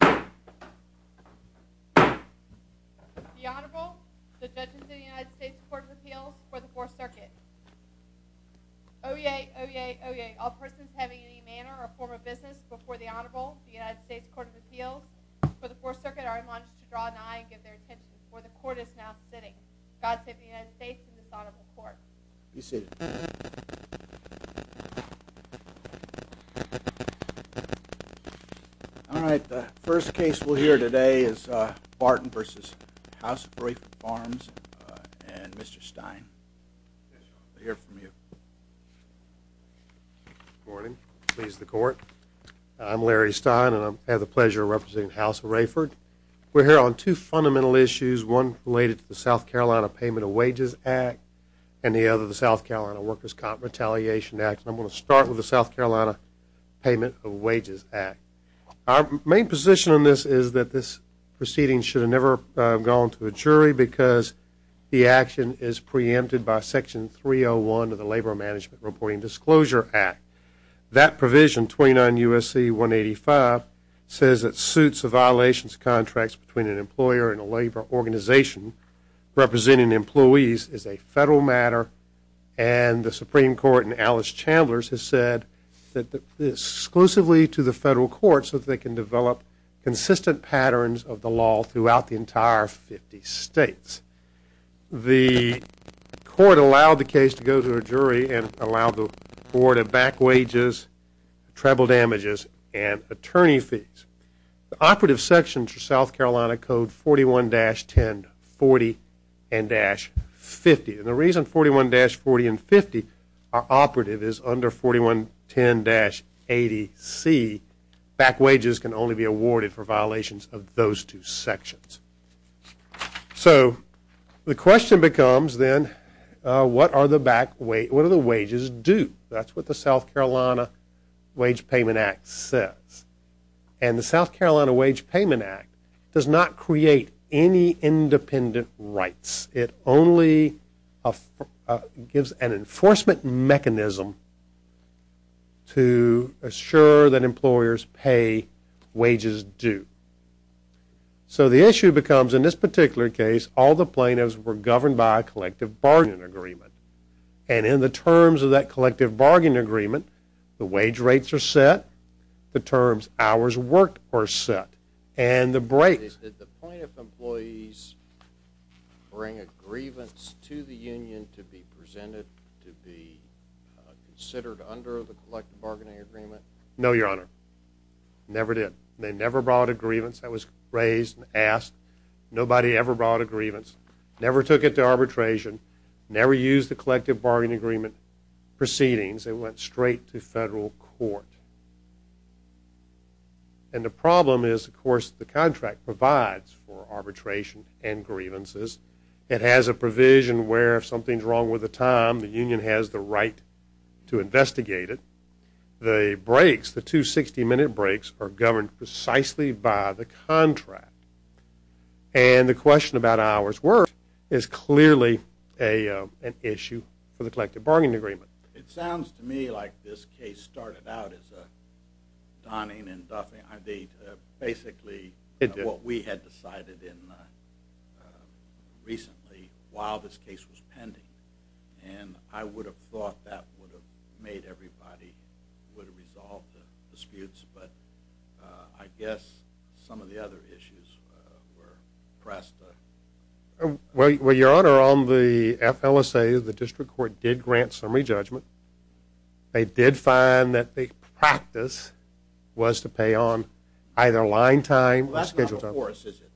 The Honorable, the Judges of the United States Courts of Appeals for the Fourth Circuit. Oyez, oyez, oyez, all persons having any manner or form of business before the Honorable, the United States Courts of Appeals for the Fourth Circuit are admonished to draw an eye and give their attention before the Court is now sitting. God save the United States and this Honorable Court. Be seated. All right. The first case we'll hear today is Barton v. House of Raeford Farms and Mr. Stein. We'll hear from you. Good morning. Please the Court. I'm Larry Stein and I have the pleasure of representing the House of Raeford. We're here on two fundamental issues, one related to the South Carolina Payment of Wages Act and the other the South Carolina Workers' Comp Retaliation Act. I'm going to start with the South Carolina Payment of Wages Act. Our main position on this is that this proceeding should have never gone to a jury because the action is preempted by Section 301 of the Labor Management Reporting Disclosure Act. That provision, 29 U.S.C. 185, says that suits of violations of contracts between an employer and a labor organization representing employees is a federal matter and the Supreme Court in Alice Chambliss has said that this exclusively to the federal courts so that they can develop consistent patterns of the law throughout the entire 50 states. The court allowed the case to go to a jury and allowed the court to back wages, treble damages, and attorney fees. The operative sections for South Carolina Code 41-1040 and 50. The reason 41-40 and 50 are operative is under 41-10-80C, back wages can only be awarded for violations of those two sections. So the question becomes then what are the wages due? That's what the South Carolina Wage Payment Act says. And the South Carolina Wage Payment Act does not create any independent rights. It only gives an enforcement mechanism to assure that employers pay wages due. So the issue becomes in this particular case, all the plaintiffs were governed by a collective bargaining agreement. And in the terms of that collective bargaining agreement, the wage rates are set, the terms hours worked are set, and the break. Did the plaintiff employees bring a grievance to the union to be presented to be considered under the collective bargaining agreement? No, Your Honor. Never did. They never brought a grievance that was raised and asked. Nobody ever brought a grievance. Never took it to arbitration. Never used the collective bargaining agreement proceedings. They went straight to federal court. And the problem is, of course, the contract provides for arbitration and grievances. It has a provision where if something's wrong with the time, the union has the right to investigate it. The breaks, the two 60-minute breaks, are governed precisely by the contract. And the question about hours worked is clearly an issue for the collective bargaining agreement. It sounds to me like this case started out as a donning and duffing. I mean, basically what we had decided in recently while this case was pending. And I would have thought that would have made everybody would have resolved the disputes, but I guess some of the other issues were pressed. Well, Your Honor, on the FLSA, the district court did grant summary judgment. They did find that the practice was to pay on either line time or scheduled time. That's not before us, is it?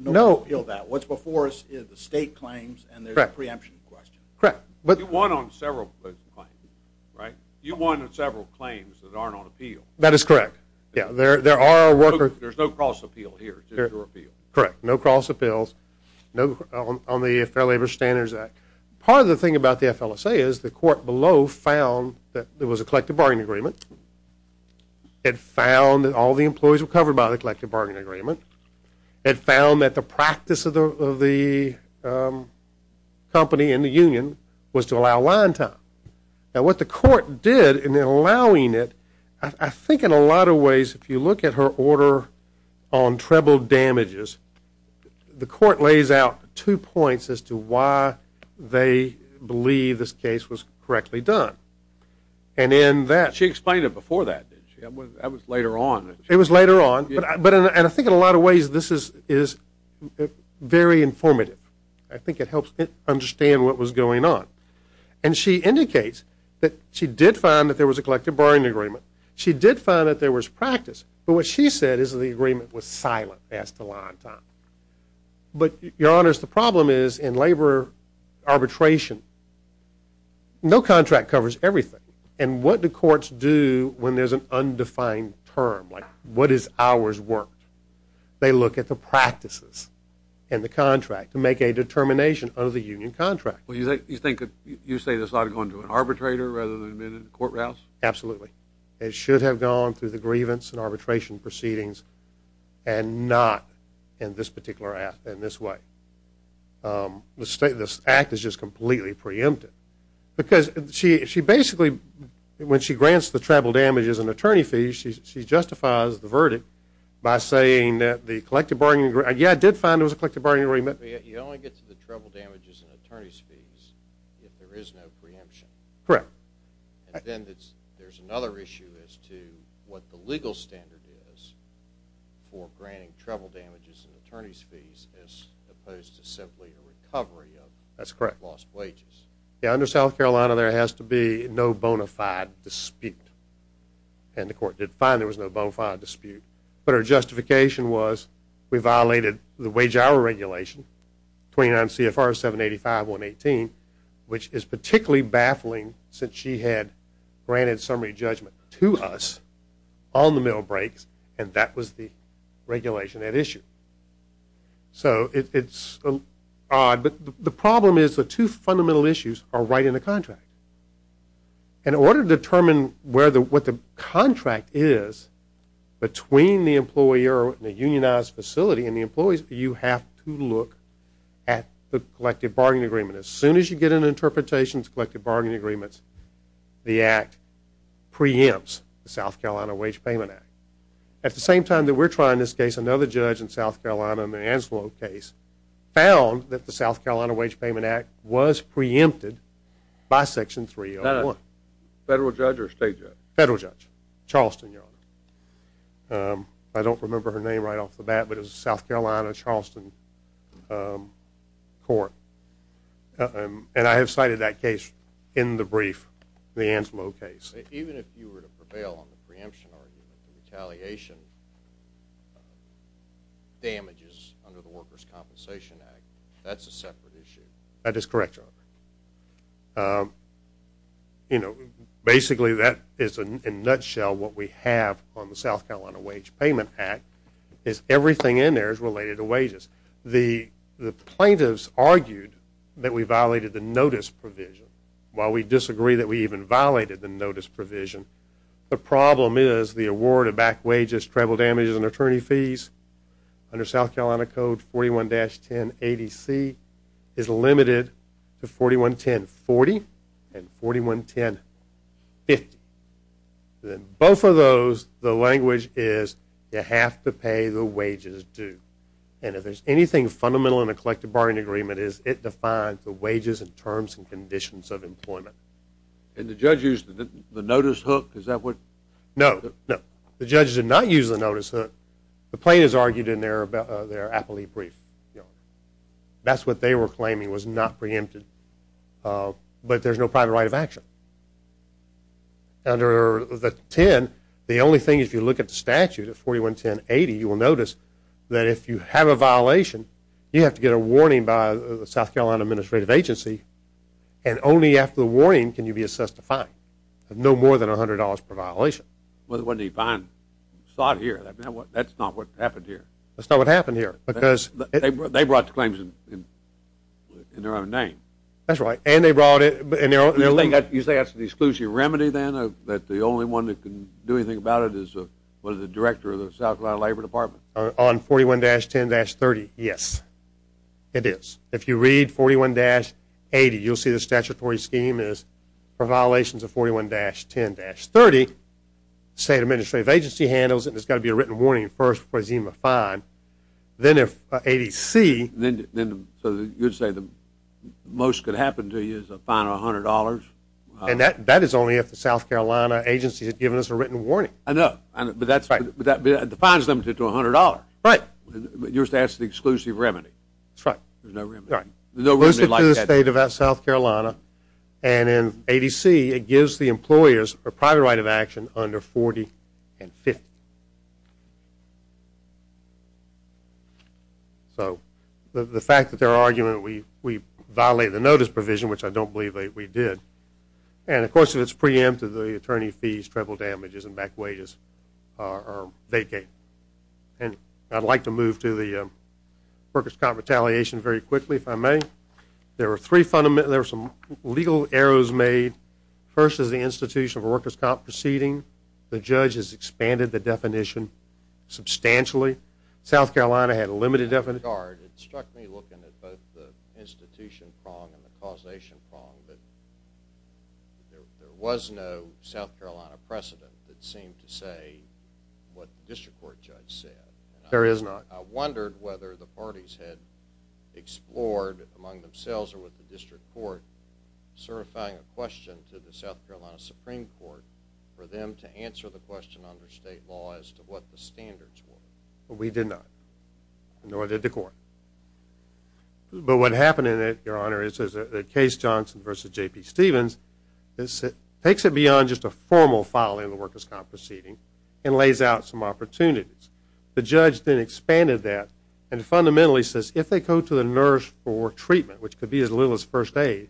No. What's before us is the state claims and there's a preemption question. Correct. You won on several claims, right? You won on several claims that aren't on appeal. That is correct. There are workers. There's no cross appeal here. Correct. No cross appeals on the Fair Labor Standards Act. Part of the thing about the FLSA is the court below found that there was a collective bargaining agreement. It found that all the employees were covered by the collective bargaining agreement. It found that the practice of the company in the union was to allow line time. Now, what the court did in allowing it, I think in a lot of ways, if you look at her order on treble damages, the court lays out two points as to why they believe this case was correctly done. She explained it before that, didn't she? That was later on. It was later on. And I think in a lot of ways this is very informative. I think it helps understand what was going on. And she indicates that she did find that there was a collective bargaining agreement. She did find that there was practice. But what she said is that the agreement was silent as to line time. But, Your Honors, the problem is in labor arbitration, no contract covers everything. And what do courts do when there's an undefined term? Like what is hours worked? They look at the practices and the contract to make a determination of the union contract. You think that you say this ought to go into an arbitrator rather than a court rouse? Absolutely. It should have gone through the grievance and arbitration proceedings and not in this particular act in this way. This act is just completely preempted. Because she basically, when she grants the treble damages and attorney fees, she justifies the verdict by saying that the collective bargaining agreement, yeah, it did find there was a collective bargaining agreement. You only get to the treble damages and attorney's fees if there is no preemption. Correct. And then there's another issue as to what the legal standard is for granting treble damages and attorney's fees as opposed to simply a recovery of lost wages. That's correct. Yeah, under South Carolina there has to be no bona fide dispute. And the court did find there was no bona fide dispute. But her justification was we violated the wage hour regulation, 29 CFR 785.118, which is particularly baffling since she had granted summary judgment to us on the middle breaks, and that was the regulation at issue. So it's odd. But the problem is the two fundamental issues are right in the contract. In order to determine what the contract is between the employer and the unionized facility and the employees, you have to look at the collective bargaining agreement. As soon as you get an interpretation of the collective bargaining agreement, the Act preempts the South Carolina Wage Payment Act. At the same time that we're trying this case, another judge in South Carolina in the Anselo case found that the South Carolina Wage Payment Act was preempted by Section 301. Federal judge or state judge? Federal judge. Charleston, Your Honor. I don't remember her name right off the bat, but it was South Carolina, Charleston Court. And I have cited that case in the brief, the Anselo case. Even if you were to prevail on the preemption argument, the retaliation damages under the Workers' Compensation Act, that's a separate issue. That is correct, Your Honor. You know, basically that is in a nutshell what we have on the South Carolina Wage Payment Act is everything in there is related to wages. The plaintiffs argued that we violated the notice provision. While we disagree that we even violated the notice provision, the problem is the award of back wages, travel damages, and attorney fees under South Carolina Code 41-1080C is limited to 41-1040 and 41-1050. Both of those, the language is you have to pay the wages due. And if there's anything fundamental in a collective bargaining agreement, it is it defines the wages and terms and conditions of employment. And the judge used the notice hook, is that what? No, no. The judge did not use the notice hook. The plaintiffs argued in their appellee brief, Your Honor. That's what they were claiming was not preempted. But there's no private right of action. Under the 10, the only thing is if you look at the statute of 41-1080, you will notice that if you have a violation, you have to get a warning by the South Carolina Administrative Agency, and only after the warning can you be assessed a fine of no more than $100 per violation. But wasn't he fined? I saw it here. That's not what happened here. That's not what happened here. They brought the claims in their own name. That's right. And they brought it in their own name. You say that's an exclusionary remedy then, that the only one that can do anything about it is the director of the South Carolina Labor Department? On 41-10-30, yes, it is. If you read 41-80, you'll see the statutory scheme is for violations of 41-10-30, the State Administrative Agency handles it, and there's got to be a written warning first before there's even a fine. Then if 80C. So you're saying the most could happen to you is a fine of $100? And that is only if the South Carolina Agency has given us a written warning. I know. But the fine is limited to $100. Right. But yours says it's an exclusive remedy. That's right. There's no remedy like that. It's exclusive to the State of South Carolina, and in 80C it gives the employers a private right of action under 40 and 50. So the fact that their argument we violated the notice provision, which I don't believe we did, and, of course, if it's preempted, the attorney fees, treble damages, and back wages are vacated. And I'd like to move to the workers' comp retaliation very quickly, if I may. There are some legal errors made. First is the institution of workers' comp proceeding. The judge has expanded the definition substantially. South Carolina had a limited definition. It struck me looking at both the institution prong and the causation prong that there was no South Carolina precedent that seemed to say what the district court judge said. There is not. I wondered whether the parties had explored among themselves or with the district court certifying a question to the South Carolina Supreme Court for them to answer the question under state law as to what the standards were. We did not, nor did the court. But what happened in it, Your Honor, is that Case Johnson v. J.P. Stevens takes it beyond just a formal filing of the workers' comp proceeding and lays out some opportunities. The judge then expanded that and fundamentally says if they go to the nurse for treatment, which could be as little as first aid,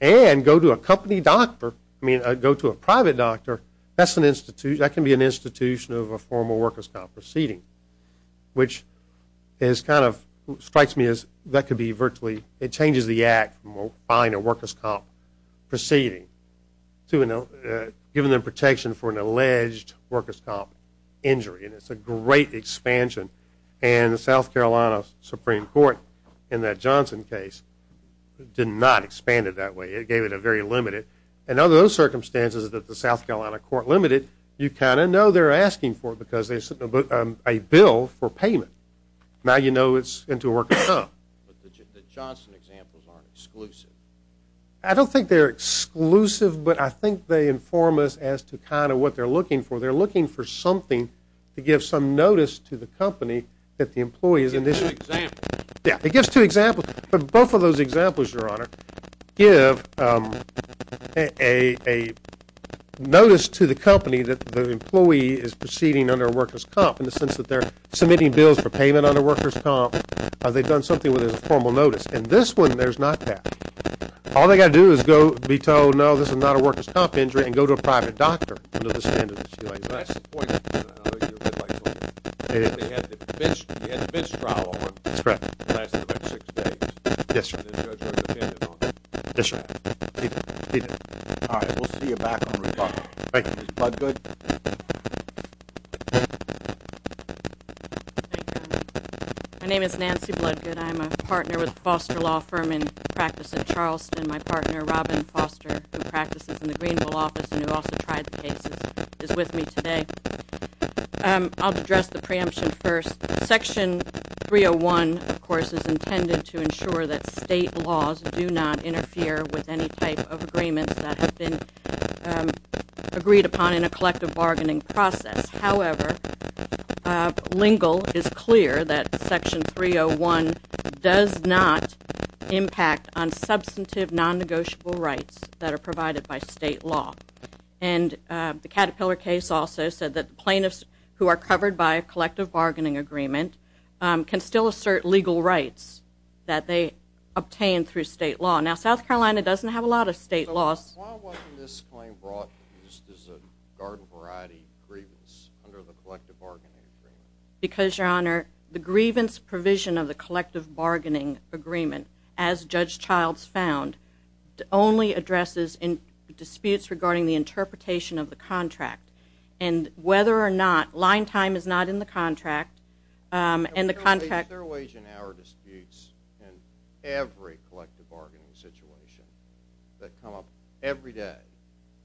and go to a company doctor, I mean go to a private doctor, that can be an institution of a formal workers' comp proceeding, which strikes me as that could be virtually, it changes the act from buying a workers' comp proceeding to giving them protection for an alleged workers' comp injury. And it's a great expansion. And the South Carolina Supreme Court in that Johnson case did not expand it that way. It gave it a very limited. And under those circumstances that the South Carolina court limited, you kind of know they're asking for it because there's a bill for payment. Now you know it's into a workers' comp. But the Johnson examples aren't exclusive. I don't think they're exclusive, but I think they inform us as to kind of what they're looking for. They're looking for something to give some notice to the company that the employee is in this. Yeah, it gives two examples. But both of those examples, Your Honor, give a notice to the company that the employee is proceeding under a workers' comp, in the sense that they're submitting bills for payment under workers' comp, or they've done something where there's a formal notice. In this one, there's not that. All they've got to do is be told, no, this is not a workers' comp injury, and go to a private doctor. But that's the point, Your Honor. He had the bench trial over. That's correct. It lasted about six days. Yes, Your Honor. And the judge had an opinion on it. Yes, Your Honor. He did. He did. All right, we'll see you back on the rebuttal. Thank you. Ms. Bloodgood? Thank you, Your Honor. My name is Nancy Bloodgood. I'm a partner with the Foster Law Firm and practice in Charleston. My partner, Robin Foster, who practices in the Greenville office and who also tried the case, is with me today. I'll address the preemption first. Section 301, of course, is intended to ensure that state laws do not interfere with any type of agreements that have been agreed upon in a collective bargaining process. However, Lingle is clear that Section 301 does not impact on substantive non-negotiable rights that are provided by state law. And the Caterpillar case also said that plaintiffs who are covered by a collective bargaining agreement can still assert legal rights that they obtain through state law. Now, South Carolina doesn't have a lot of state laws. Why wasn't this claim brought just as a garden variety grievance under the collective bargaining agreement? Because, Your Honor, the grievance provision of the collective bargaining agreement, as Judge Childs found, only addresses disputes regarding the interpretation of the contract. And whether or not line time is not in the contract, and the contract... Is there a wage and hour disputes in every collective bargaining situation that come up every day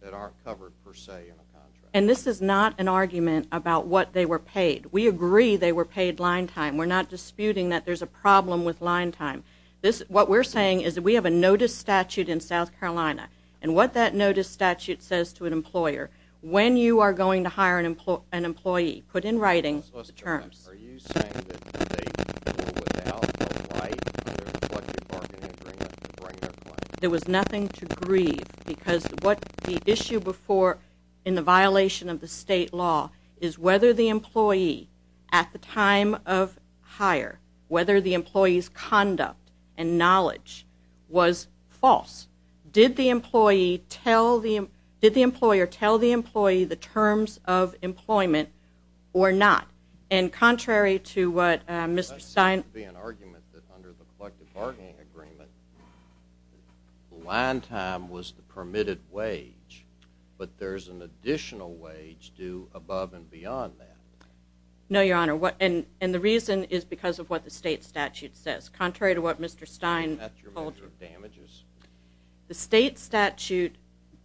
that aren't covered per se in a contract? And this is not an argument about what they were paid. We agree they were paid line time. We're not disputing that there's a problem with line time. What we're saying is that we have a notice statute in South Carolina, and what that notice statute says to an employer, when you are going to hire an employee, put in writing the terms. Are you saying that the state could do it without a right under the collective bargaining agreement? There was nothing to grieve because what the issue before in the violation of the state law is whether the employee at the time of hire, whether the employee's conduct and knowledge was false. Did the employer tell the employee the terms of employment or not? And contrary to what Mr. Stein... Line time was the permitted wage, but there's an additional wage due above and beyond that. No, Your Honor, and the reason is because of what the state statute says. Contrary to what Mr. Stein... That's your measure of damages. The state statute,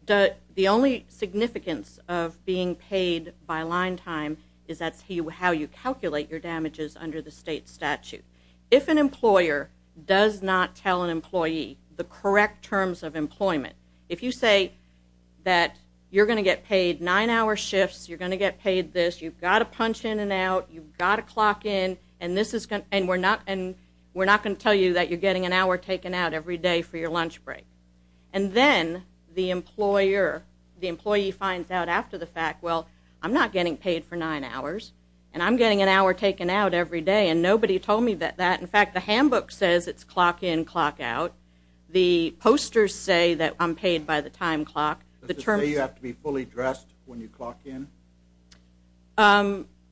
the only significance of being paid by line time is that's how you calculate your damages under the state statute. If an employer does not tell an employee the correct terms of employment, if you say that you're going to get paid nine-hour shifts, you're going to get paid this, you've got to punch in and out, you've got to clock in, and we're not going to tell you that you're getting an hour taken out every day for your lunch break, and then the employer, the employee finds out after the fact, well, I'm not getting paid for nine hours, and I'm getting an hour taken out every day, and nobody told me that. In fact, the handbook says it's clock in, clock out. The posters say that I'm paid by the time clock. Does it say you have to be fully dressed when you clock in?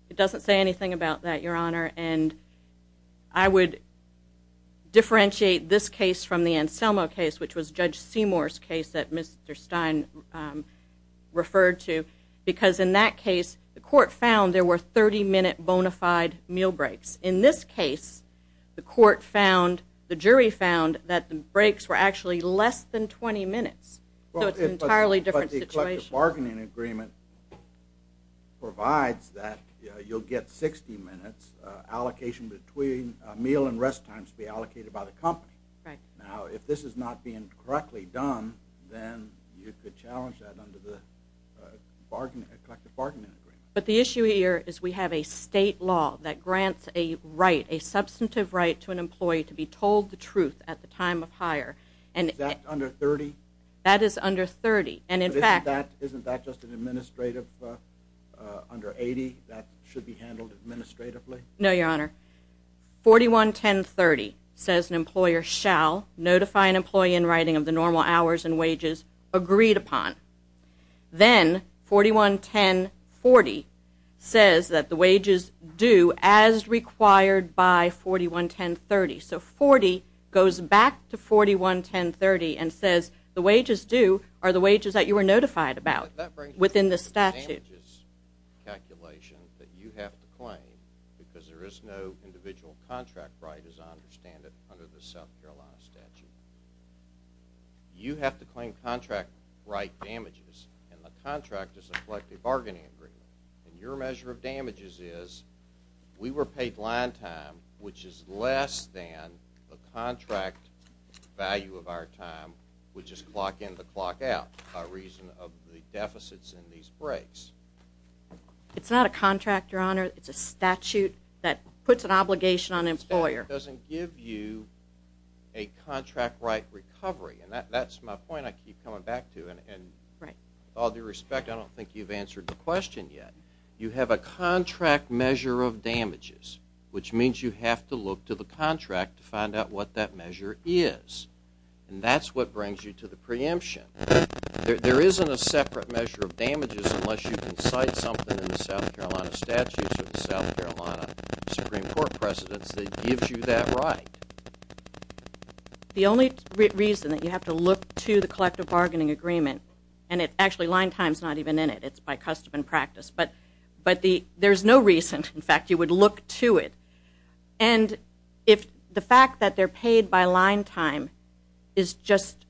It doesn't say anything about that, Your Honor, and I would differentiate this case from the Anselmo case, which was Judge Seymour's case that Mr. Stein referred to, because in that case the court found there were 30-minute bona fide meal breaks in this case the court found, the jury found, that the breaks were actually less than 20 minutes, so it's an entirely different situation. But the collective bargaining agreement provides that you'll get 60 minutes allocation between meal and rest times to be allocated by the company. Now, if this is not being correctly done, then you could challenge that under the collective bargaining agreement. But the issue here is we have a state law that grants a right, a substantive right to an employee to be told the truth at the time of hire. Is that under 30? That is under 30. Isn't that just an administrative under 80 that should be handled administratively? No, Your Honor. 411030 says an employer shall notify an employee in writing of the normal hours and wages agreed upon. Then 411040 says that the wages due as required by 411030. So 40 goes back to 411030 and says the wages due are the wages that you were notified about within the statute. That brings me to the damages calculation that you have to claim because there is no individual contract right, as I understand it, under the South Carolina statute. You have to claim contract right damages, and the contract is a collective bargaining agreement. And your measure of damages is we were paid line time, which is less than the contract value of our time, which is clock in to clock out, by reason of the deficits in these breaks. It's not a contract, Your Honor. It's a statute that puts an obligation on an employer. It doesn't give you a contract right recovery, and that's my point I keep coming back to. And with all due respect, I don't think you've answered the question yet. You have a contract measure of damages, which means you have to look to the contract to find out what that measure is, and that's what brings you to the preemption. There isn't a separate measure of damages unless you can cite something in the South Carolina statute for the South Carolina Supreme Court precedents that gives you that right. The only reason that you have to look to the collective bargaining agreement, and actually line time is not even in it. It's by custom and practice. But there's no reason, in fact, you would look to it. And if the fact that they're paid by line time is just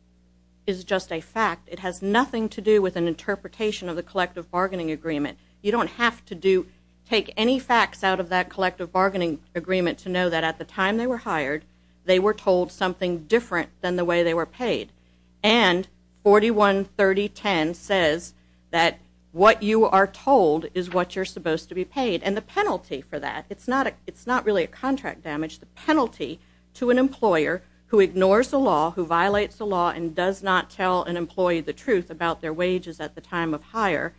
a fact, it has nothing to do with an interpretation of the collective bargaining agreement. You don't have to take any facts out of that collective bargaining agreement to know that at the time they were hired, they were told something different than the way they were paid. And 413010 says that what you are told is what you're supposed to be paid. And the penalty for that, it's not really a contract damage. The penalty to an employer who ignores the law, who violates the law, and does not tell an employee the truth about their wages at the time of hire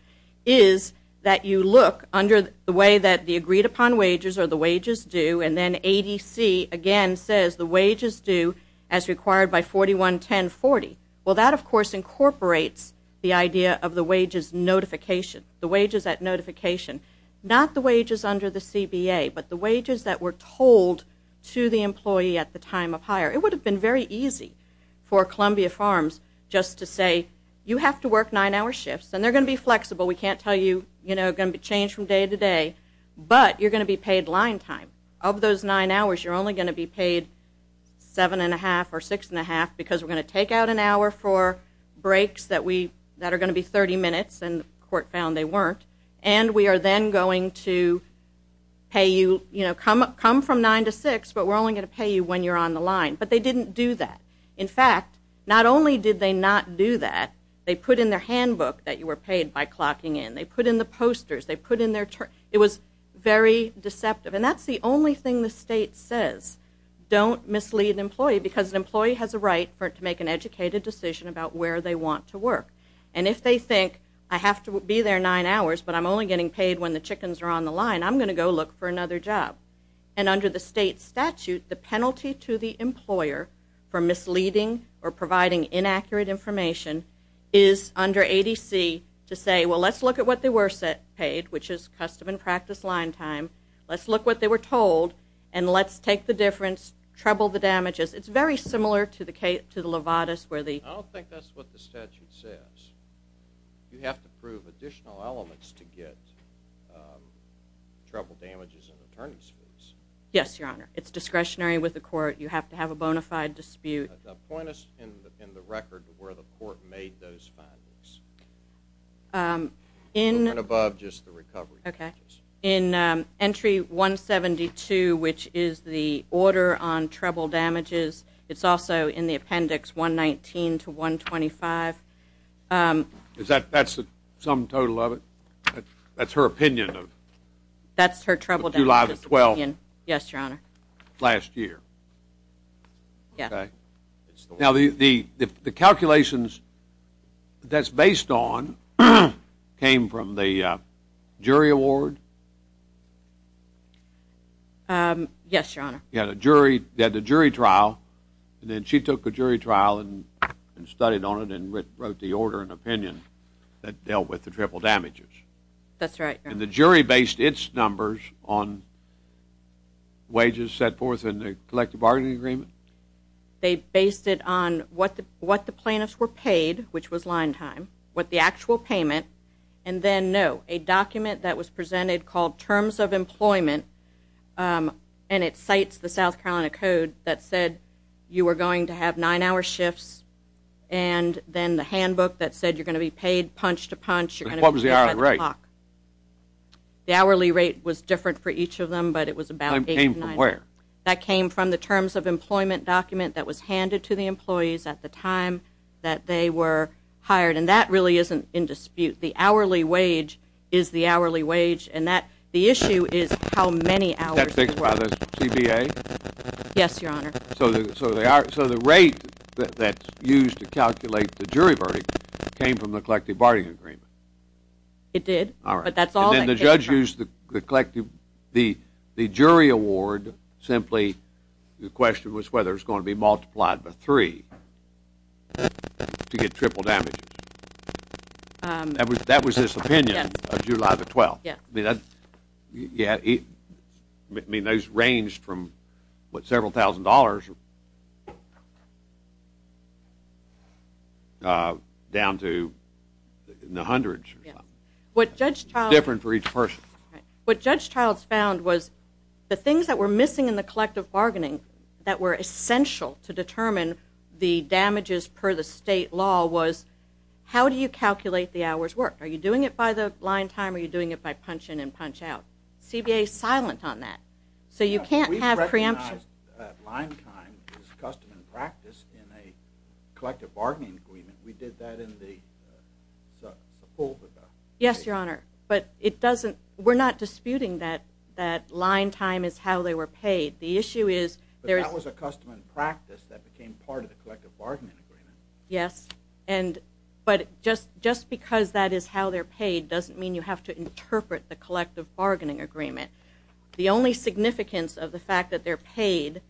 is that you look under the way that the agreed upon wages or the wages due, and then ADC again says the wages due as required by 411040. Well, that, of course, incorporates the idea of the wages notification, the wages at notification, not the wages under the CBA, but the wages that were told to the employee at the time of hire. It would have been very easy for Columbia Farms just to say, you have to work nine-hour shifts, and they're going to be flexible. We can't tell you, you know, they're going to be changed from day to day. But you're going to be paid line time. Of those nine hours, you're only going to be paid seven and a half or six and a half because we're going to take out an hour for breaks that are going to be 30 minutes, and the court found they weren't. And we are then going to pay you, you know, come from nine to six, but we're only going to pay you when you're on the line. But they didn't do that. In fact, not only did they not do that, they put in their handbook that you were paid by clocking in. They put in the posters. It was very deceptive. And that's the only thing the state says, don't mislead an employee because an employee has a right to make an educated decision about where they want to work. And if they think, I have to be there nine hours, but I'm only getting paid when the chickens are on the line, I'm going to go look for another job. And under the state statute, the penalty to the employer for misleading or providing inaccurate information is under ADC to say, well, let's look at what they were paid, which is custom and practice line time. Let's look what they were told, and let's take the difference, trouble the damages. It's very similar to the Levatas where the ‑‑ I don't think that's what the statute says. You have to prove additional elements to get trouble damages and attorney's fees. Yes, Your Honor. It's discretionary with the court. You have to have a bona fide dispute. Point us in the record to where the court made those findings. A little bit above just the recovery damages. Okay. In entry 172, which is the order on trouble damages, it's also in the appendix 119 to 125. That's the sum total of it? That's her opinion of July the 12th? That's her trouble damages opinion, yes, Your Honor. Last year? Yes. Okay. Now, the calculations that's based on came from the jury award? Yes, Your Honor. They had a jury trial, and then she took the jury trial and studied on it and wrote the order and opinion that dealt with the trouble damages. That's right, Your Honor. And the jury based its numbers on wages set forth in the collective bargaining agreement? They based it on what the plaintiffs were paid, which was line time, what the actual payment, and then, no, a document that was presented called Terms of Employment, and it cites the South Carolina Code that said you were going to have nine-hour shifts, and then the handbook that said you're going to be paid punch to punch, you're going to be paid by the clock. What was the hourly rate? The hourly rate was different for each of them, but it was about eight to nine. It came from where? That came from the Terms of Employment document that was handed to the employees at the time that they were hired, and that really isn't in dispute. The hourly wage is the hourly wage, and the issue is how many hours. Was that fixed by the CBA? Yes, Your Honor. So the rate that's used to calculate the jury verdict came from the collective bargaining agreement? It did. All right. But that's all that came from. And then the judge used the jury award simply, the question was whether it was going to be multiplied by three to get triple damages. That was his opinion of July the 12th. Yes. I mean, those ranged from, what, several thousand dollars down to in the hundreds. Yes. It's different for each person. What Judge Childs found was the things that were missing in the collective bargaining that were essential to determine the damages per the state law was, how do you calculate the hours worked? Are you doing it by the line time or are you doing it by punch in and punch out? CBA is silent on that. So you can't have preemption. We recognize that line time is custom and practice in a collective bargaining agreement. We did that in the Sepulveda case. Yes, Your Honor. But we're not disputing that line time is how they were paid. But that was a custom and practice that became part of the collective bargaining agreement. Yes. But just because that is how they're paid doesn't mean you have to interpret the collective bargaining agreement. The only significance of the fact that they're paid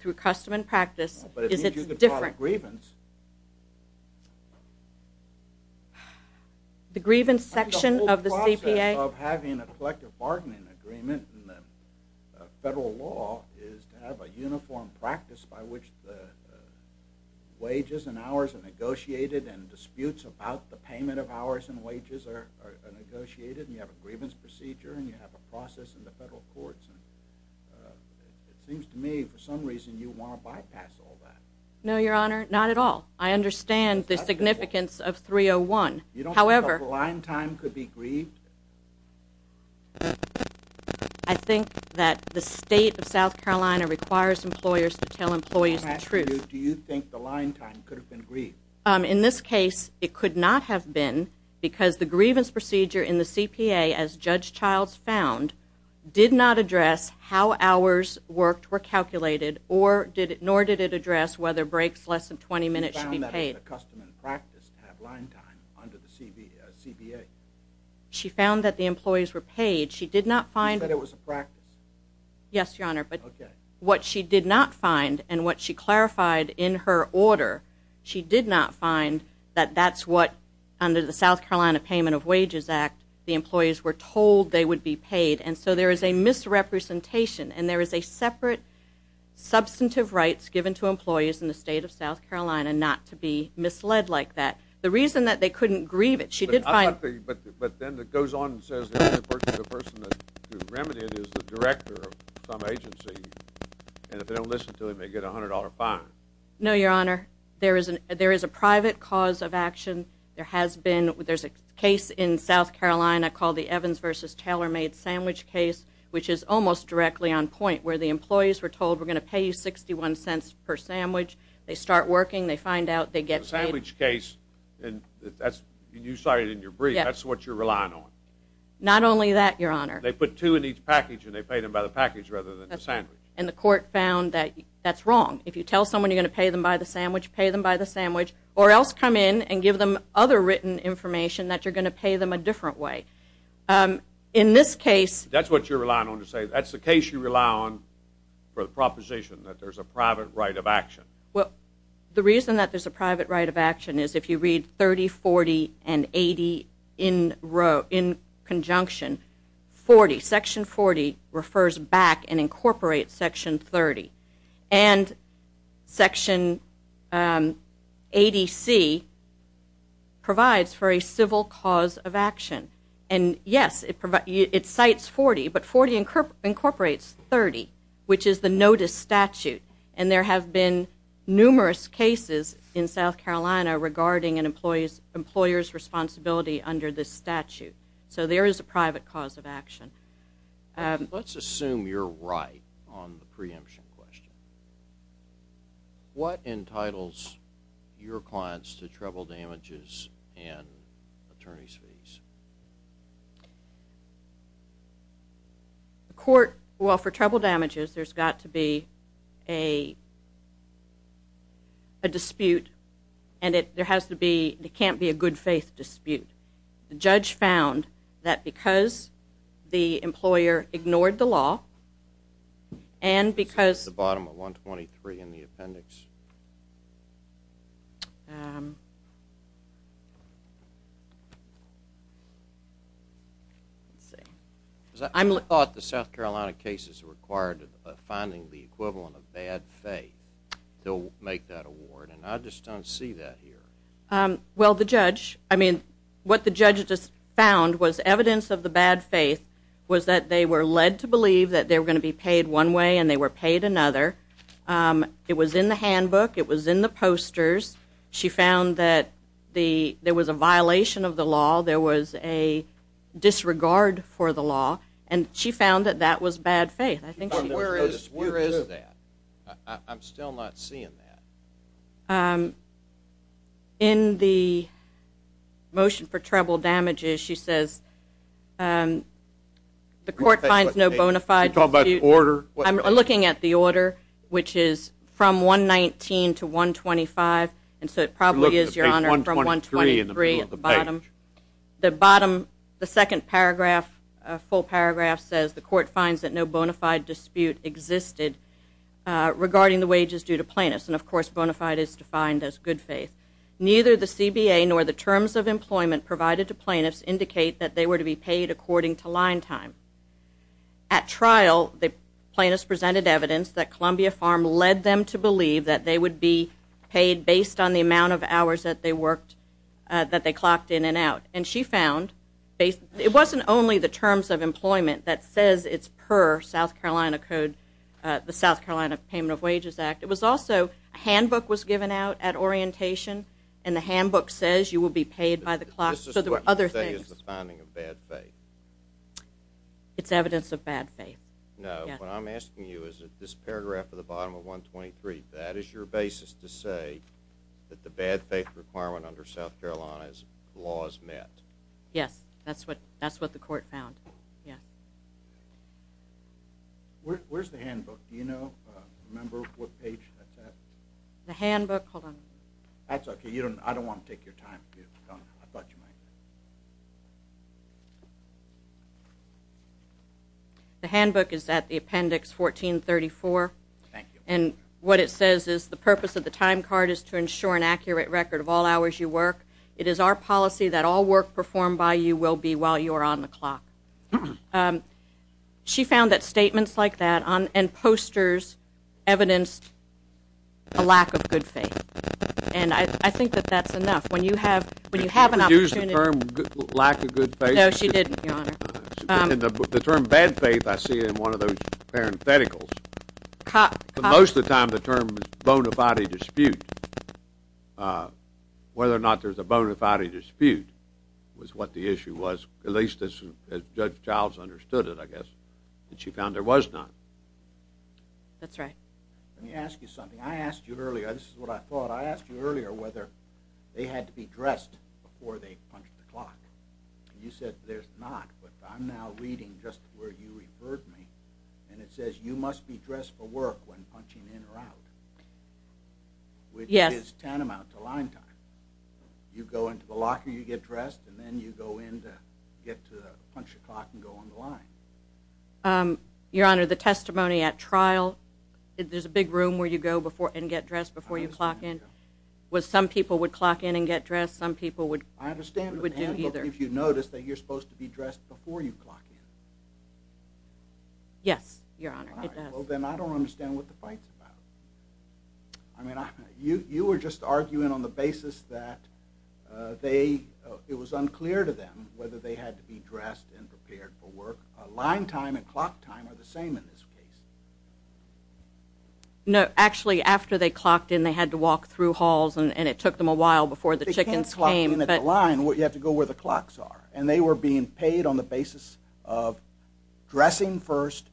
through custom and practice is it's different. But it means you could file a grievance. The grievance section of the CPA? The significance of having a collective bargaining agreement in the federal law is to have a uniform practice by which the wages and hours are negotiated and disputes about the payment of hours and wages are negotiated and you have a grievance procedure and you have a process in the federal courts. It seems to me for some reason you want to bypass all that. No, Your Honor, not at all. I understand the significance of 301. You don't think the line time could be grieved? I think that the state of South Carolina requires employers to tell employees the truth. I'm asking you, do you think the line time could have been grieved? In this case, it could not have been because the grievance procedure in the CPA, as Judge Childs found, did not address how hours worked were calculated, nor did it address whether breaks less than 20 minutes should be paid. Did the customer in practice have line time under the CPA? She found that the employees were paid. She said it was a practice? Yes, Your Honor, but what she did not find and what she clarified in her order, she did not find that that's what, under the South Carolina Payment of Wages Act, the employees were told they would be paid. And so there is a misrepresentation and there is a separate substantive rights given to employees in the state of South Carolina not to be misled like that. The reason that they couldn't grieve it, she did find... But then it goes on and says the person who remedied it is the director of some agency, and if they don't listen to it, they get a $100 fine. No, Your Honor, there is a private cause of action. There's a case in South Carolina called the Evans v. Taylor made sandwich case, which is almost directly on point where the employees were told, we're going to pay you $0.61 per sandwich. They start working. They find out. They get paid. The sandwich case, and you cited in your brief, that's what you're relying on. Not only that, Your Honor. They put two in each package and they paid them by the package rather than the sandwich. And the court found that that's wrong. If you tell someone you're going to pay them by the sandwich, pay them by the sandwich, or else come in and give them other written information that you're going to pay them a different way. In this case. That's what you're relying on to say. That's the case you rely on for the proposition that there's a private right of action. Well, the reason that there's a private right of action is if you read 30, 40, and 80 in conjunction, 40. Section 40 refers back and incorporates Section 30. And Section 80C provides for a civil cause of action. And, yes, it cites 40, but 40 incorporates 30, which is the notice statute. And there have been numerous cases in South Carolina regarding an employer's responsibility under this statute. So there is a private cause of action. Let's assume you're right on the preemption question. What entitles your clients to treble damages and attorney's fees? The court, well, for treble damages, there's got to be a dispute, and it can't be a good-faith dispute. The judge found that because the employer ignored the law and because- It's at the bottom of 123 in the appendix. Let's see. I thought the South Carolina cases required finding the equivalent of bad faith to make that award, and I just don't see that here. Well, the judge, I mean, what the judge just found was evidence of the bad faith was that they were led to believe that they were going to be paid one way and they were paid another. It was in the handbook. It was in the posters. She found that there was a violation of the law. There was a disregard for the law, and she found that that was bad faith. Where is that? I'm still not seeing that. In the motion for treble damages, she says the court finds no bona fide dispute. Are you talking about the order? I'm looking at the order, which is from 119 to 125, and so it probably is, Your Honor, from 123 at the bottom. The second full paragraph says the court finds that no bona fide dispute existed regarding the wages due to plaintiffs, and, of course, bona fide is defined as good faith. Neither the CBA nor the terms of employment provided to plaintiffs indicate that they were to be paid according to line time. At trial, the plaintiffs presented evidence that Columbia Farm led them to believe that they would be paid based on the amount of hours that they clocked in and out, and she found it wasn't only the terms of employment that says it's per the South Carolina Payment of Wages Act. It was also a handbook was given out at orientation, and the handbook says you will be paid by the clock, so there were other things. This is what you say is the finding of bad faith. It's evidence of bad faith. No, what I'm asking you is that this paragraph at the bottom of 123, that is your basis to say that the bad faith requirement under South Carolina's law is met. Where's the handbook? Do you know? Remember what page that's at? The handbook? Hold on. That's okay. I don't want to take your time. I thought you might. The handbook is at the appendix 1434, and what it says is the purpose of the time card is to ensure an accurate record of all hours you work. It is our policy that all work performed by you will be while you are on the clock. She found that statements like that and posters evidenced a lack of good faith, and I think that that's enough. When you have an opportunity. Did she ever use the term lack of good faith? No, she didn't, Your Honor. The term bad faith I see in one of those parentheticals. Most of the time the term is bona fide dispute. Whether or not there's a bona fide dispute was what the issue was, at least as Judge Childs understood it, I guess, that she found there was none. That's right. Let me ask you something. I asked you earlier. This is what I thought. I asked you earlier whether they had to be dressed before they punched the clock, and you said there's not, but I'm now reading just where you referred me, and it says you must be dressed for work when punching in or out, which is tantamount to line time. You go into the locker, you get dressed, and then you go in to get to punch the clock and go on the line. Your Honor, the testimony at trial, there's a big room where you go and get dressed before you clock in. Some people would clock in and get dressed. Some people would do either. I understand, but if you notice that you're supposed to be dressed before you clock in. Yes, Your Honor, it does. All right. Well, then I don't understand what the fight's about. I mean, you were just arguing on the basis that it was unclear to them whether they had to be dressed and prepared for work. Line time and clock time are the same in this case. No, actually, after they clocked in, they had to walk through halls, and it took them a while before the chickens came. You can't clock in at the line. You have to go where the clocks are, and they were being paid on the basis of dressing first,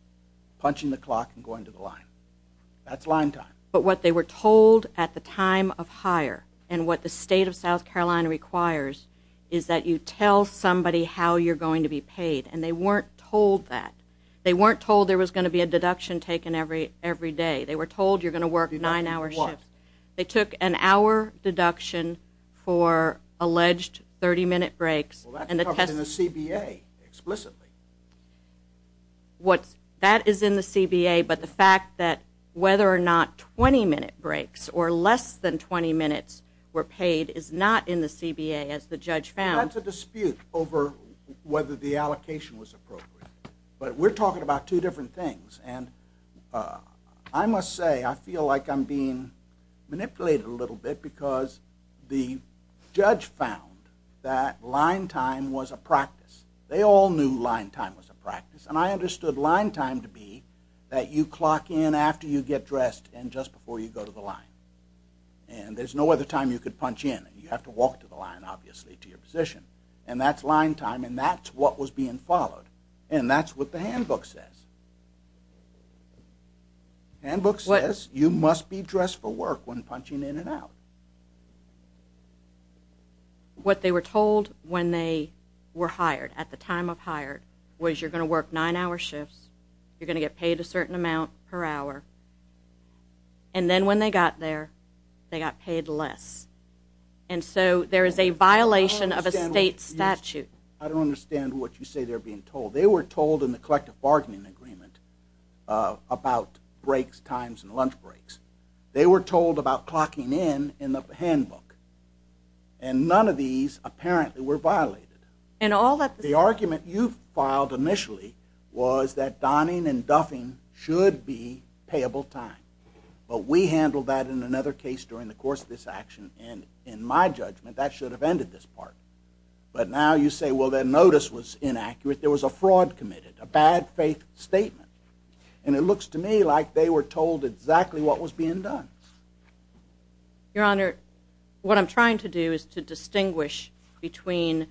punching the clock, and going to the line. That's line time. But what they were told at the time of hire and what the state of South Carolina requires is that you tell somebody how you're going to be paid, and they weren't told that. They weren't told there was going to be a deduction taken every day. They were told you're going to work nine-hour shifts. They took an hour deduction for alleged 30-minute breaks. Well, that's covered in the CBA explicitly. That is in the CBA, but the fact that whether or not 20-minute breaks or less than 20 minutes were paid is not in the CBA, as the judge found. That's a dispute over whether the allocation was appropriate. But we're talking about two different things, and I must say I feel like I'm being manipulated a little bit because the judge found that line time was a practice. They all knew line time was a practice, and I understood line time to be that you clock in after you get dressed and just before you go to the line. And there's no other time you could punch in. You have to walk to the line, obviously, to your position. And that's line time, and that's what was being followed, and that's what the handbook says. The handbook says you must be dressed for work when punching in and out. What they were told when they were hired, at the time of hire, was you're going to work nine-hour shifts, you're going to get paid a certain amount per hour, and then when they got there, they got paid less. And so there is a violation of a state statute. I don't understand what you say they're being told. They were told in the collective bargaining agreement about breaks, times, and lunch breaks. They were told about clocking in in the handbook, and none of these apparently were violated. The argument you filed initially was that donning and duffing should be payable time. But we handled that in another case during the course of this action, and in my judgment, that should have ended this part. But now you say, well, that notice was inaccurate. There was a fraud committed, a bad faith statement. And it looks to me like they were told exactly what was being done. Your Honor, what I'm trying to do is to distinguish between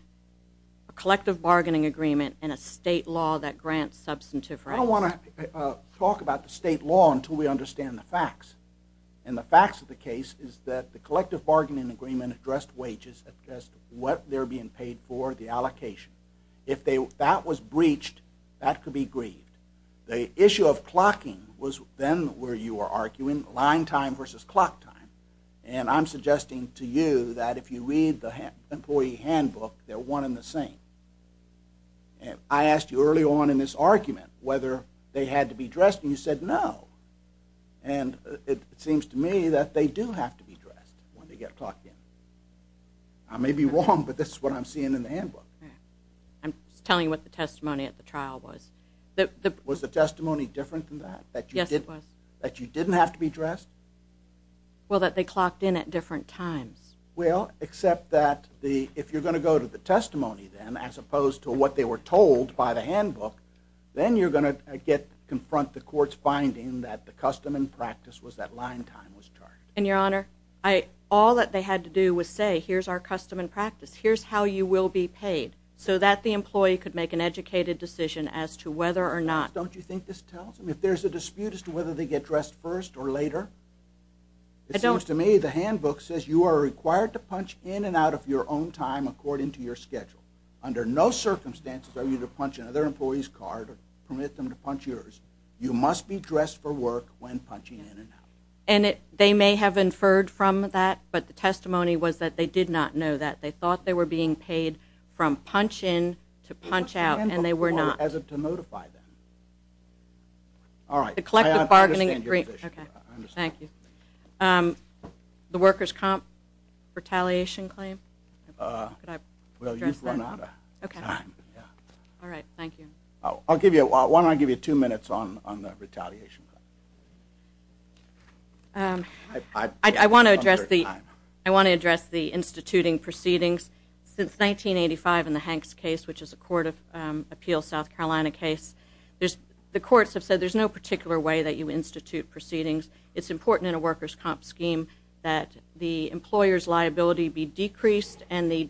a collective bargaining agreement and a state law that grants substantive rights. I don't want to talk about the state law until we understand the facts. And the facts of the case is that the collective bargaining agreement addressed wages, addressed what they're being paid for, the allocation. If that was breached, that could be grieved. The issue of clocking was then where you were arguing, line time versus clock time. And I'm suggesting to you that if you read the employee handbook, they're one and the same. I asked you early on in this argument whether they had to be dressed, and you said no. And it seems to me that they do have to be dressed when they get clocked in. I may be wrong, but this is what I'm seeing in the handbook. I'm just telling you what the testimony at the trial was. Was the testimony different than that? Yes, it was. That you didn't have to be dressed? Well, that they clocked in at different times. Well, except that if you're going to go to the testimony then, as opposed to what they were told by the handbook, then you're going to confront the court's finding that the custom and practice was that line time was charged. And, Your Honor, all that they had to do was say, here's our custom and practice, here's how you will be paid, so that the employee could make an educated decision as to whether or not. Don't you think this tells them if there's a dispute as to whether they get dressed first or later? It seems to me the handbook says you are required to punch in and out of your own time according to your schedule. Under no circumstances are you to punch another employee's card or permit them to punch yours. You must be dressed for work when punching in and out. And they may have inferred from that, but the testimony was that they did not know that. They thought they were being paid from punch in to punch out, and they were not. The handbook required us to notify them. All right. The collective bargaining agreement. I understand your position. Thank you. The workers' comp retaliation claim? Well, you run out of time. All right. Thank you. Why don't I give you two minutes on the retaliation? I want to address the instituting proceedings. Since 1985 in the Hanks case, which is a Court of Appeals, South Carolina case, the courts have said there's no particular way that you institute proceedings. It's important in a workers' comp scheme that the employer's liability be decreased and the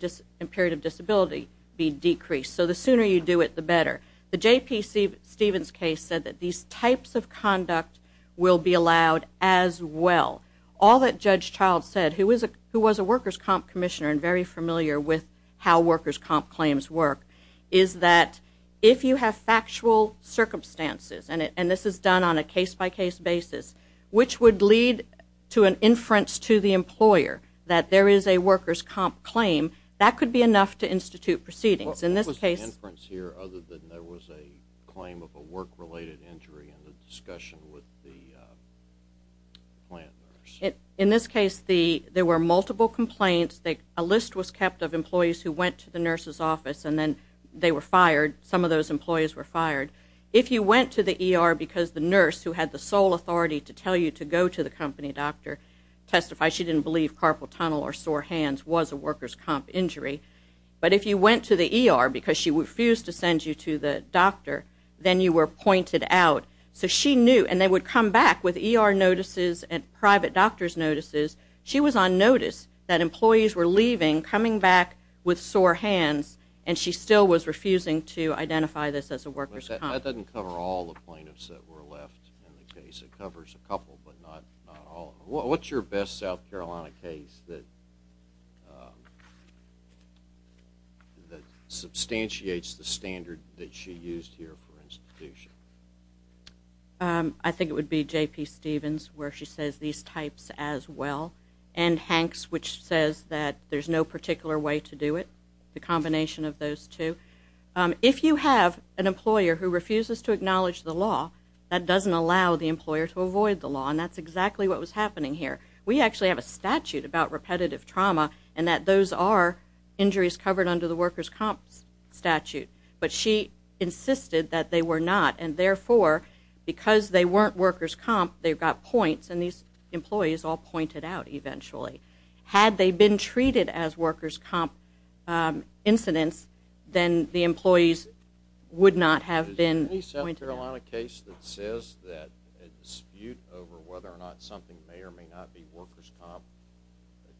period of disability be decreased. So the sooner you do it, the better. The J.P. Stevens case said that these types of conduct will be allowed as well. All that Judge Child said, who was a workers' comp commissioner and very familiar with how workers' comp claims work, is that if you have factual circumstances, and this is done on a case-by-case basis, which would lead to an inference to the employer that there is a workers' comp claim, that could be enough to institute proceedings. What was the inference here other than there was a claim of a work-related injury in the discussion with the plant nurse? In this case, there were multiple complaints. A list was kept of employees who went to the nurse's office, and then they were fired. Some of those employees were fired. If you went to the ER because the nurse, who had the sole authority to tell you to go to the company doctor, testified she didn't believe carpal tunnel or sore hands was a workers' comp injury. But if you went to the ER because she refused to send you to the doctor, then you were pointed out. So she knew, and they would come back with ER notices and private doctor's notices. She was on notice that employees were leaving, coming back with sore hands, and she still was refusing to identify this as a workers' comp. That doesn't cover all the plaintiffs that were left in the case. It covers a couple, but not all. What's your best South Carolina case that substantiates the standard that she used here for institution? I think it would be J.P. Stevens, where she says these types as well, and Hanks, which says that there's no particular way to do it, the combination of those two. If you have an employer who refuses to acknowledge the law, that doesn't allow the employer to avoid the law, and that's exactly what was happening here. We actually have a statute about repetitive trauma and that those are injuries covered under the workers' comp statute. But she insisted that they were not, and therefore, because they weren't workers' comp, they got points, and these employees all pointed out eventually. Had they been treated as workers' comp incidents, then the employees would not have been pointed out. Is there a South Carolina case that says that a dispute over whether or not something may or may not be workers' comp,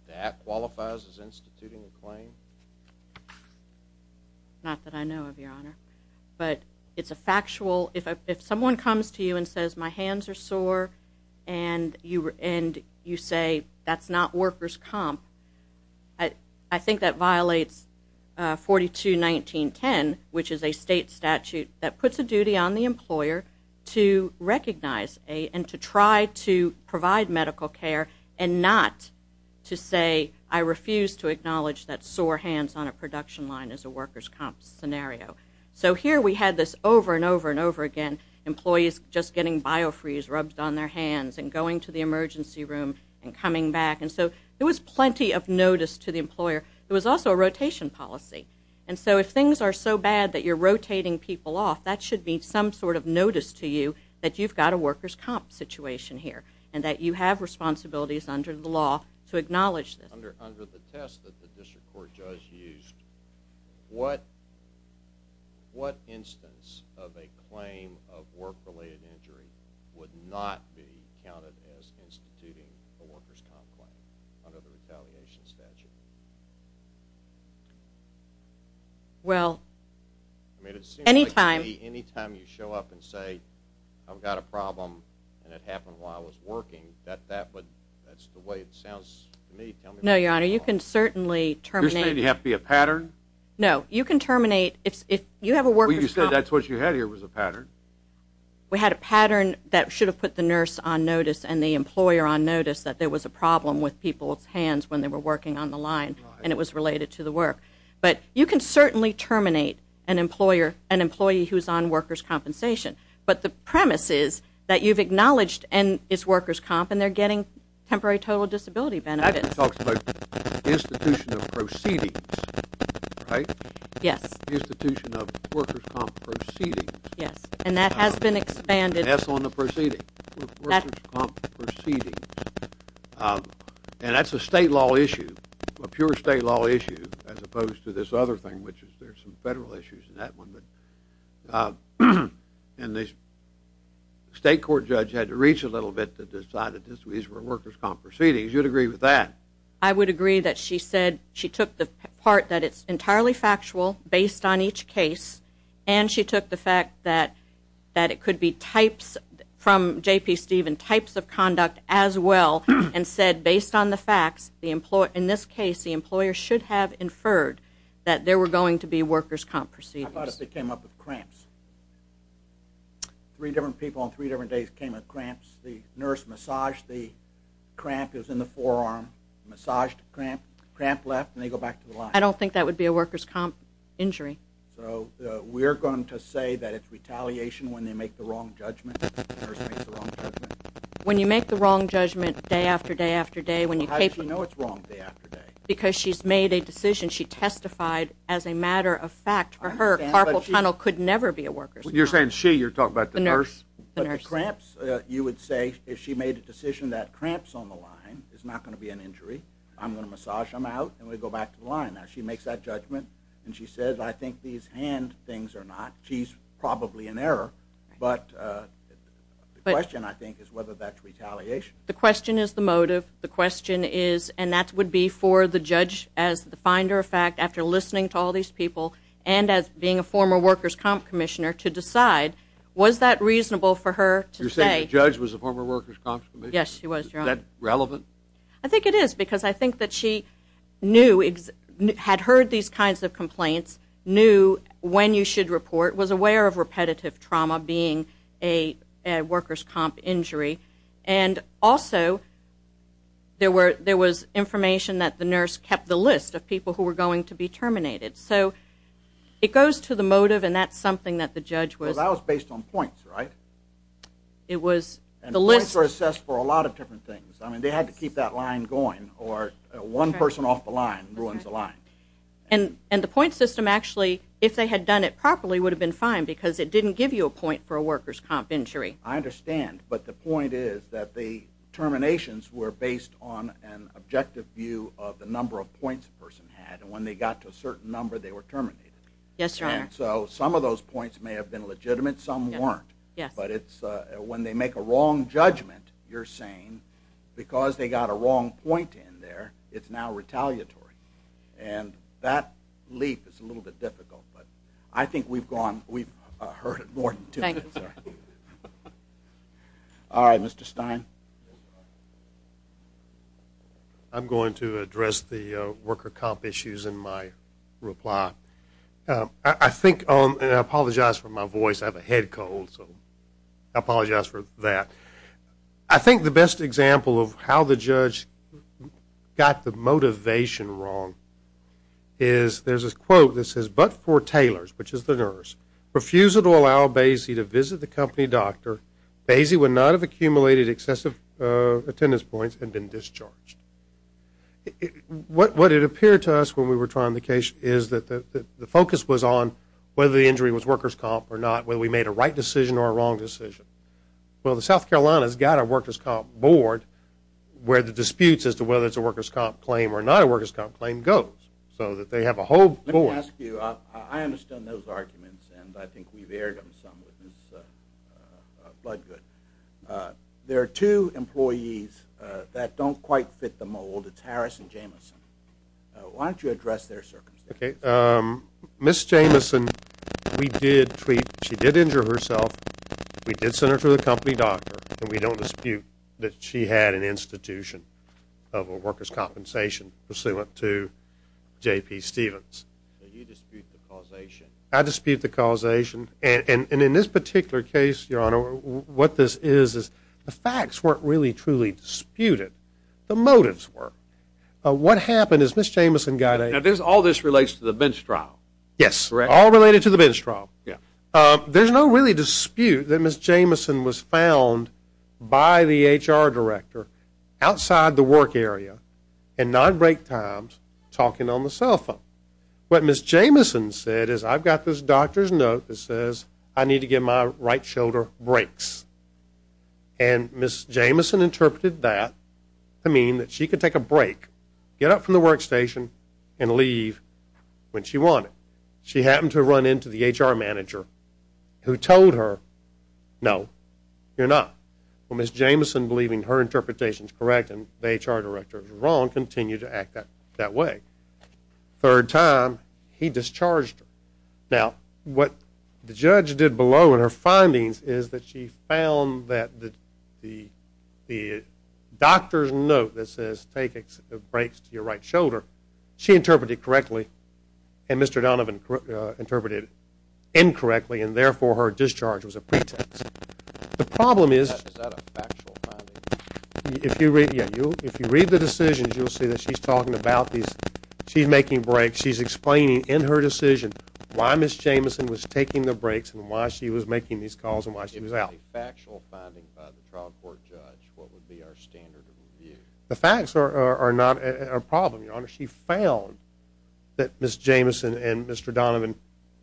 that qualifies as instituting a claim? Not that I know of, Your Honor, but it's a factual. If someone comes to you and says, my hands are sore, and you say that's not workers' comp, I think that violates 42-1910, which is a state statute that puts a duty on the employer to recognize and to try to provide medical care and not to say, I refuse to acknowledge that sore hands on a production line is a workers' comp scenario. So here we had this over and over and over again, employees just getting biofreeze rubbed on their hands and going to the emergency room and coming back. And so there was plenty of notice to the employer. There was also a rotation policy. And so if things are so bad that you're rotating people off, that should be some sort of notice to you that you've got a workers' comp situation here and that you have responsibilities under the law to acknowledge this. Under the test that the district court judge used, what instance of a claim of work-related injury would not be counted as instituting a workers' comp claim under the retaliation statute? Well, anytime you show up and say, I've got a problem and it happened while I was working, that's the way it sounds to me. No, Your Honor, you can certainly terminate. Does it have to be a pattern? No, you can terminate. Well, you said that's what you had here was a pattern. We had a pattern that should have put the nurse on notice and the employer on notice that there was a problem with people's hands when they were working on the line and it was related to the work. But you can certainly terminate an employer, an employee who's on workers' compensation. But the premise is that you've acknowledged and it's workers' comp and they're getting temporary total disability benefits. That talks about institution of proceedings, right? Yes. Institution of workers' comp proceedings. Yes, and that has been expanded. Yes, on the proceedings. Workers' comp proceedings. And that's a state law issue, a pure state law issue as opposed to this other thing, which is there's some federal issues in that one. And the state court judge had to reach a little bit to decide that these were workers' comp proceedings. You'd agree with that? I would agree that she said she took the part that it's entirely factual based on each case and she took the fact that it could be types from J.P. Stephen, types of conduct as well, and said based on the facts, in this case, the employer should have inferred that there were going to be workers' comp proceedings. How about if they came up with cramps? Three different people on three different days came with cramps. The nurse massaged the cramp that was in the forearm, massaged the cramp, the cramp left, and they go back to the line. I don't think that would be a workers' comp injury. So we're going to say that it's retaliation when they make the wrong judgment, when the nurse makes the wrong judgment? When you make the wrong judgment day after day after day, how does she know it's wrong day after day? Because she's made a decision. She testified as a matter of fact. For her, Carpal Tunnel could never be a workers' comp. You're saying she. You're talking about the nurse. But the cramps, you would say, if she made a decision that cramps on the line I'm going to massage them out, and we go back to the line. Now, she makes that judgment, and she says, I think these hand things are not. She's probably in error, but the question, I think, is whether that's retaliation. The question is the motive. The question is, and that would be for the judge as the finder of fact after listening to all these people and as being a former workers' comp commissioner to decide, was that reasonable for her to say. You're saying the judge was a former workers' comp commissioner? Yes, she was, Your Honor. Is that relevant? I think it is because I think that she knew, had heard these kinds of complaints, knew when you should report, was aware of repetitive trauma being a workers' comp injury, and also there was information that the nurse kept the list of people who were going to be terminated. So it goes to the motive, and that's something that the judge was. Well, that was based on points, right? It was the list. Points were assessed for a lot of different things. I mean, they had to keep that line going or one person off the line ruins the line. And the point system actually, if they had done it properly, would have been fine because it didn't give you a point for a workers' comp injury. I understand, but the point is that the terminations were based on an objective view of the number of points a person had, and when they got to a certain number, they were terminated. Yes, Your Honor. And so some of those points may have been legitimate, some weren't. But when they make a wrong judgment, you're saying, because they got a wrong point in there, it's now retaliatory. And that leap is a little bit difficult, but I think we've heard it more than two minutes. All right, Mr. Stein. I'm going to address the workers' comp issues in my reply. I think, and I apologize for my voice. I have a head cold, so I apologize for that. I think the best example of how the judge got the motivation wrong is, there's a quote that says, but for Taylors, which is the nurse, refusal to allow Basie to visit the company doctor, Basie would not have accumulated excessive attendance points and been discharged. What it appeared to us when we were trying the case is that the focus was on whether the injury was workers' comp or not, whether we made a right decision or a wrong decision. Well, the South Carolinas got a workers' comp board where the disputes as to whether it's a workers' comp claim or not a workers' comp claim goes, so that they have a whole board. Let me ask you, I understand those arguments, and I think we've aired them some with Ms. Bloodgood. There are two employees that don't quite fit the mold. It's Harris and Jamison. Why don't you address their circumstances? Ms. Jamison, we did treat, she did injure herself. We did send her to the company doctor, and we don't dispute that she had an institution of a workers' compensation pursuant to J.P. Stevens. You dispute the causation. I dispute the causation, and in this particular case, Your Honor, what this is is the facts weren't really truly disputed. The motives were. What happened is Ms. Jamison got a Now, all this relates to the bench trial. Yes, all related to the bench trial. There's no really dispute that Ms. Jamison was found by the H.R. director outside the work area and non-break times talking on the cell phone. What Ms. Jamison said is I've got this doctor's note that says I need to give my right shoulder breaks. And Ms. Jamison interpreted that to mean that she could take a break, get up from the workstation, and leave when she wanted. She happened to run into the H.R. manager who told her, no, you're not. Well, Ms. Jamison, believing her interpretation is correct and the H.R. director is wrong, continued to act that way. Third time, he discharged her. Now, what the judge did below in her findings is that she found that the doctor's note that says take breaks to your right shoulder, she interpreted correctly and Mr. Donovan interpreted incorrectly, and therefore her discharge was a pretext. The problem is if you read the decisions, you'll see that she's talking about these. She's making breaks. She's explaining in her decision why Ms. Jamison was taking the breaks and why she was making these calls and why she was out. If it was a factual finding by the trial court judge, what would be our standard of review? The facts are not a problem, Your Honor. She found that Ms. Jamison and Mr. Donovan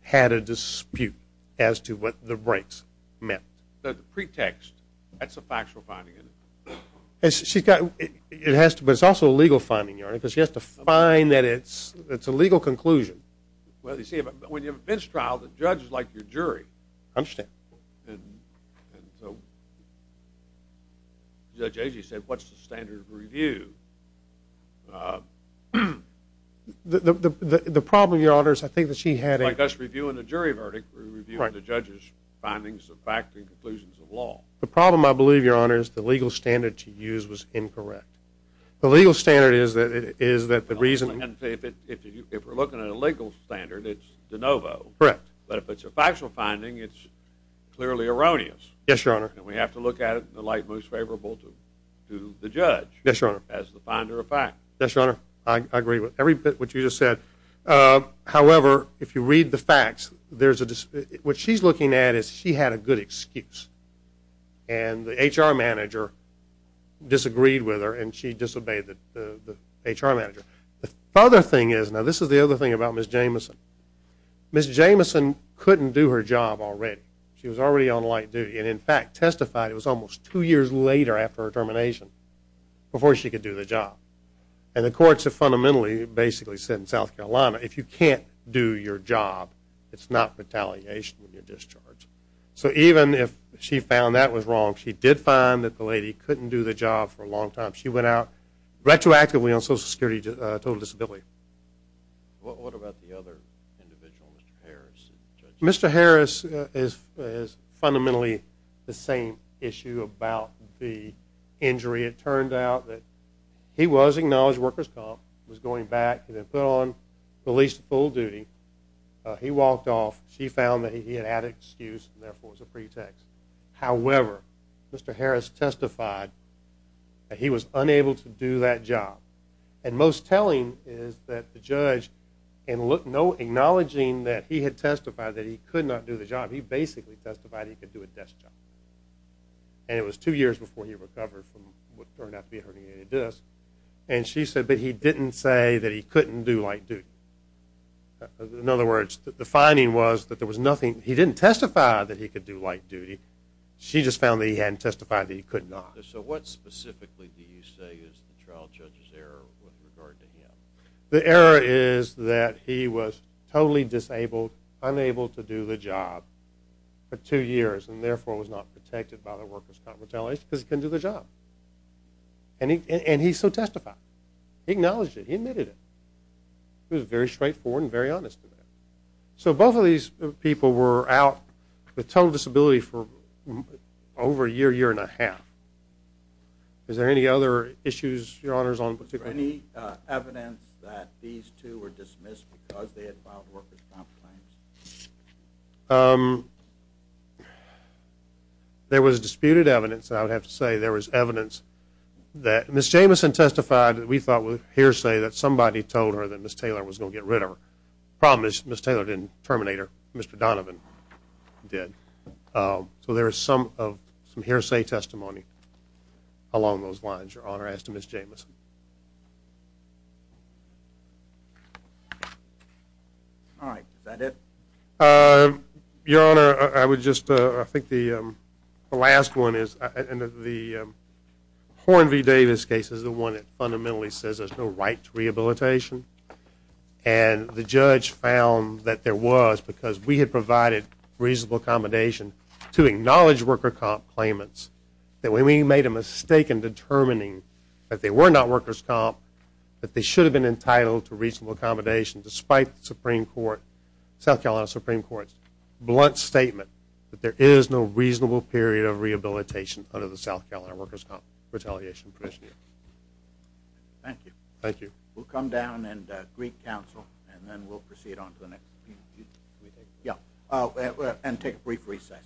had a dispute as to what the breaks meant. So the pretext, that's a factual finding, isn't it? It has to, but it's also a legal finding, Your Honor, because she has to find that it's a legal conclusion. Well, you see, when you have a bench trial, the judge is like your jury. I understand. Judge Agee said, what's the standard of review? The problem, Your Honor, is I think that she had a Like us reviewing a jury verdict, we're reviewing the judge's findings of fact and conclusions of law. The problem, I believe, Your Honor, is the legal standard to use was incorrect. The legal standard is that the reason If we're looking at a legal standard, it's de novo. Correct. But if it's a factual finding, it's clearly erroneous. Yes, Your Honor. And we have to look at it in the light most favorable to the judge. Yes, Your Honor. As the finder of fact. Yes, Your Honor. I agree with every bit of what you just said. However, if you read the facts, there's a What she's looking at is she had a good excuse. And the HR manager disagreed with her, and she disobeyed the HR manager. The other thing is, now this is the other thing about Ms. Jameson. Ms. Jameson couldn't do her job already. She was already on light duty. And, in fact, testified it was almost two years later after her termination before she could do the job. And the courts have fundamentally basically said in South Carolina, If you can't do your job, it's not retaliation when you're discharged. So even if she found that was wrong, she did find that the lady couldn't do the job for a long time. She went out retroactively on Social Security total disability. What about the other individual, Mr. Harris? He was acknowledged workers' comp, was going back, and then put on police full duty. He walked off. She found that he had had an excuse, and therefore it was a pretext. However, Mr. Harris testified that he was unable to do that job. And most telling is that the judge, in acknowledging that he had testified that he could not do the job, he basically testified he could do a desk job. And it was two years before he recovered from what turned out to be a herniated disc. And she said that he didn't say that he couldn't do light duty. In other words, the finding was that there was nothing. He didn't testify that he could do light duty. She just found that he hadn't testified that he could not. So what specifically do you say is the trial judge's error with regard to him? The error is that he was totally disabled, unable to do the job for two years, and therefore was not protected by the workers' comp retaliation because he couldn't do the job. And he so testified. He acknowledged it. He admitted it. It was very straightforward and very honest. So both of these people were out with total disability for over a year, year and a half. Is there any other issues, Your Honors, on particular? Was there any evidence that these two were dismissed because they had filed workers' comp claims? There was disputed evidence. I would have to say there was evidence that Ms. Jamison testified that we thought was hearsay, that somebody told her that Ms. Taylor was going to get rid of her. The problem is Ms. Taylor didn't terminate her. Mr. Donovan did. So there is some hearsay testimony along those lines, Your Honor, as to Ms. Jamison. All right. Is that it? Your Honor, I would just, I think the last one is, and the Horn v. Davis case is the one that fundamentally says there's no right to rehabilitation. And the judge found that there was because we had provided reasonable accommodation to acknowledge worker comp claimants. That when we made a mistake in determining that they were not workers' comp, that they should have been entitled to reasonable accommodation despite the Supreme Court, South Carolina Supreme Court's blunt statement that there is no reasonable period of rehabilitation under the South Carolina workers' comp retaliation provision. Thank you. Thank you. We'll come down and greet counsel and then we'll proceed on to the next. Yeah. And take a brief recess.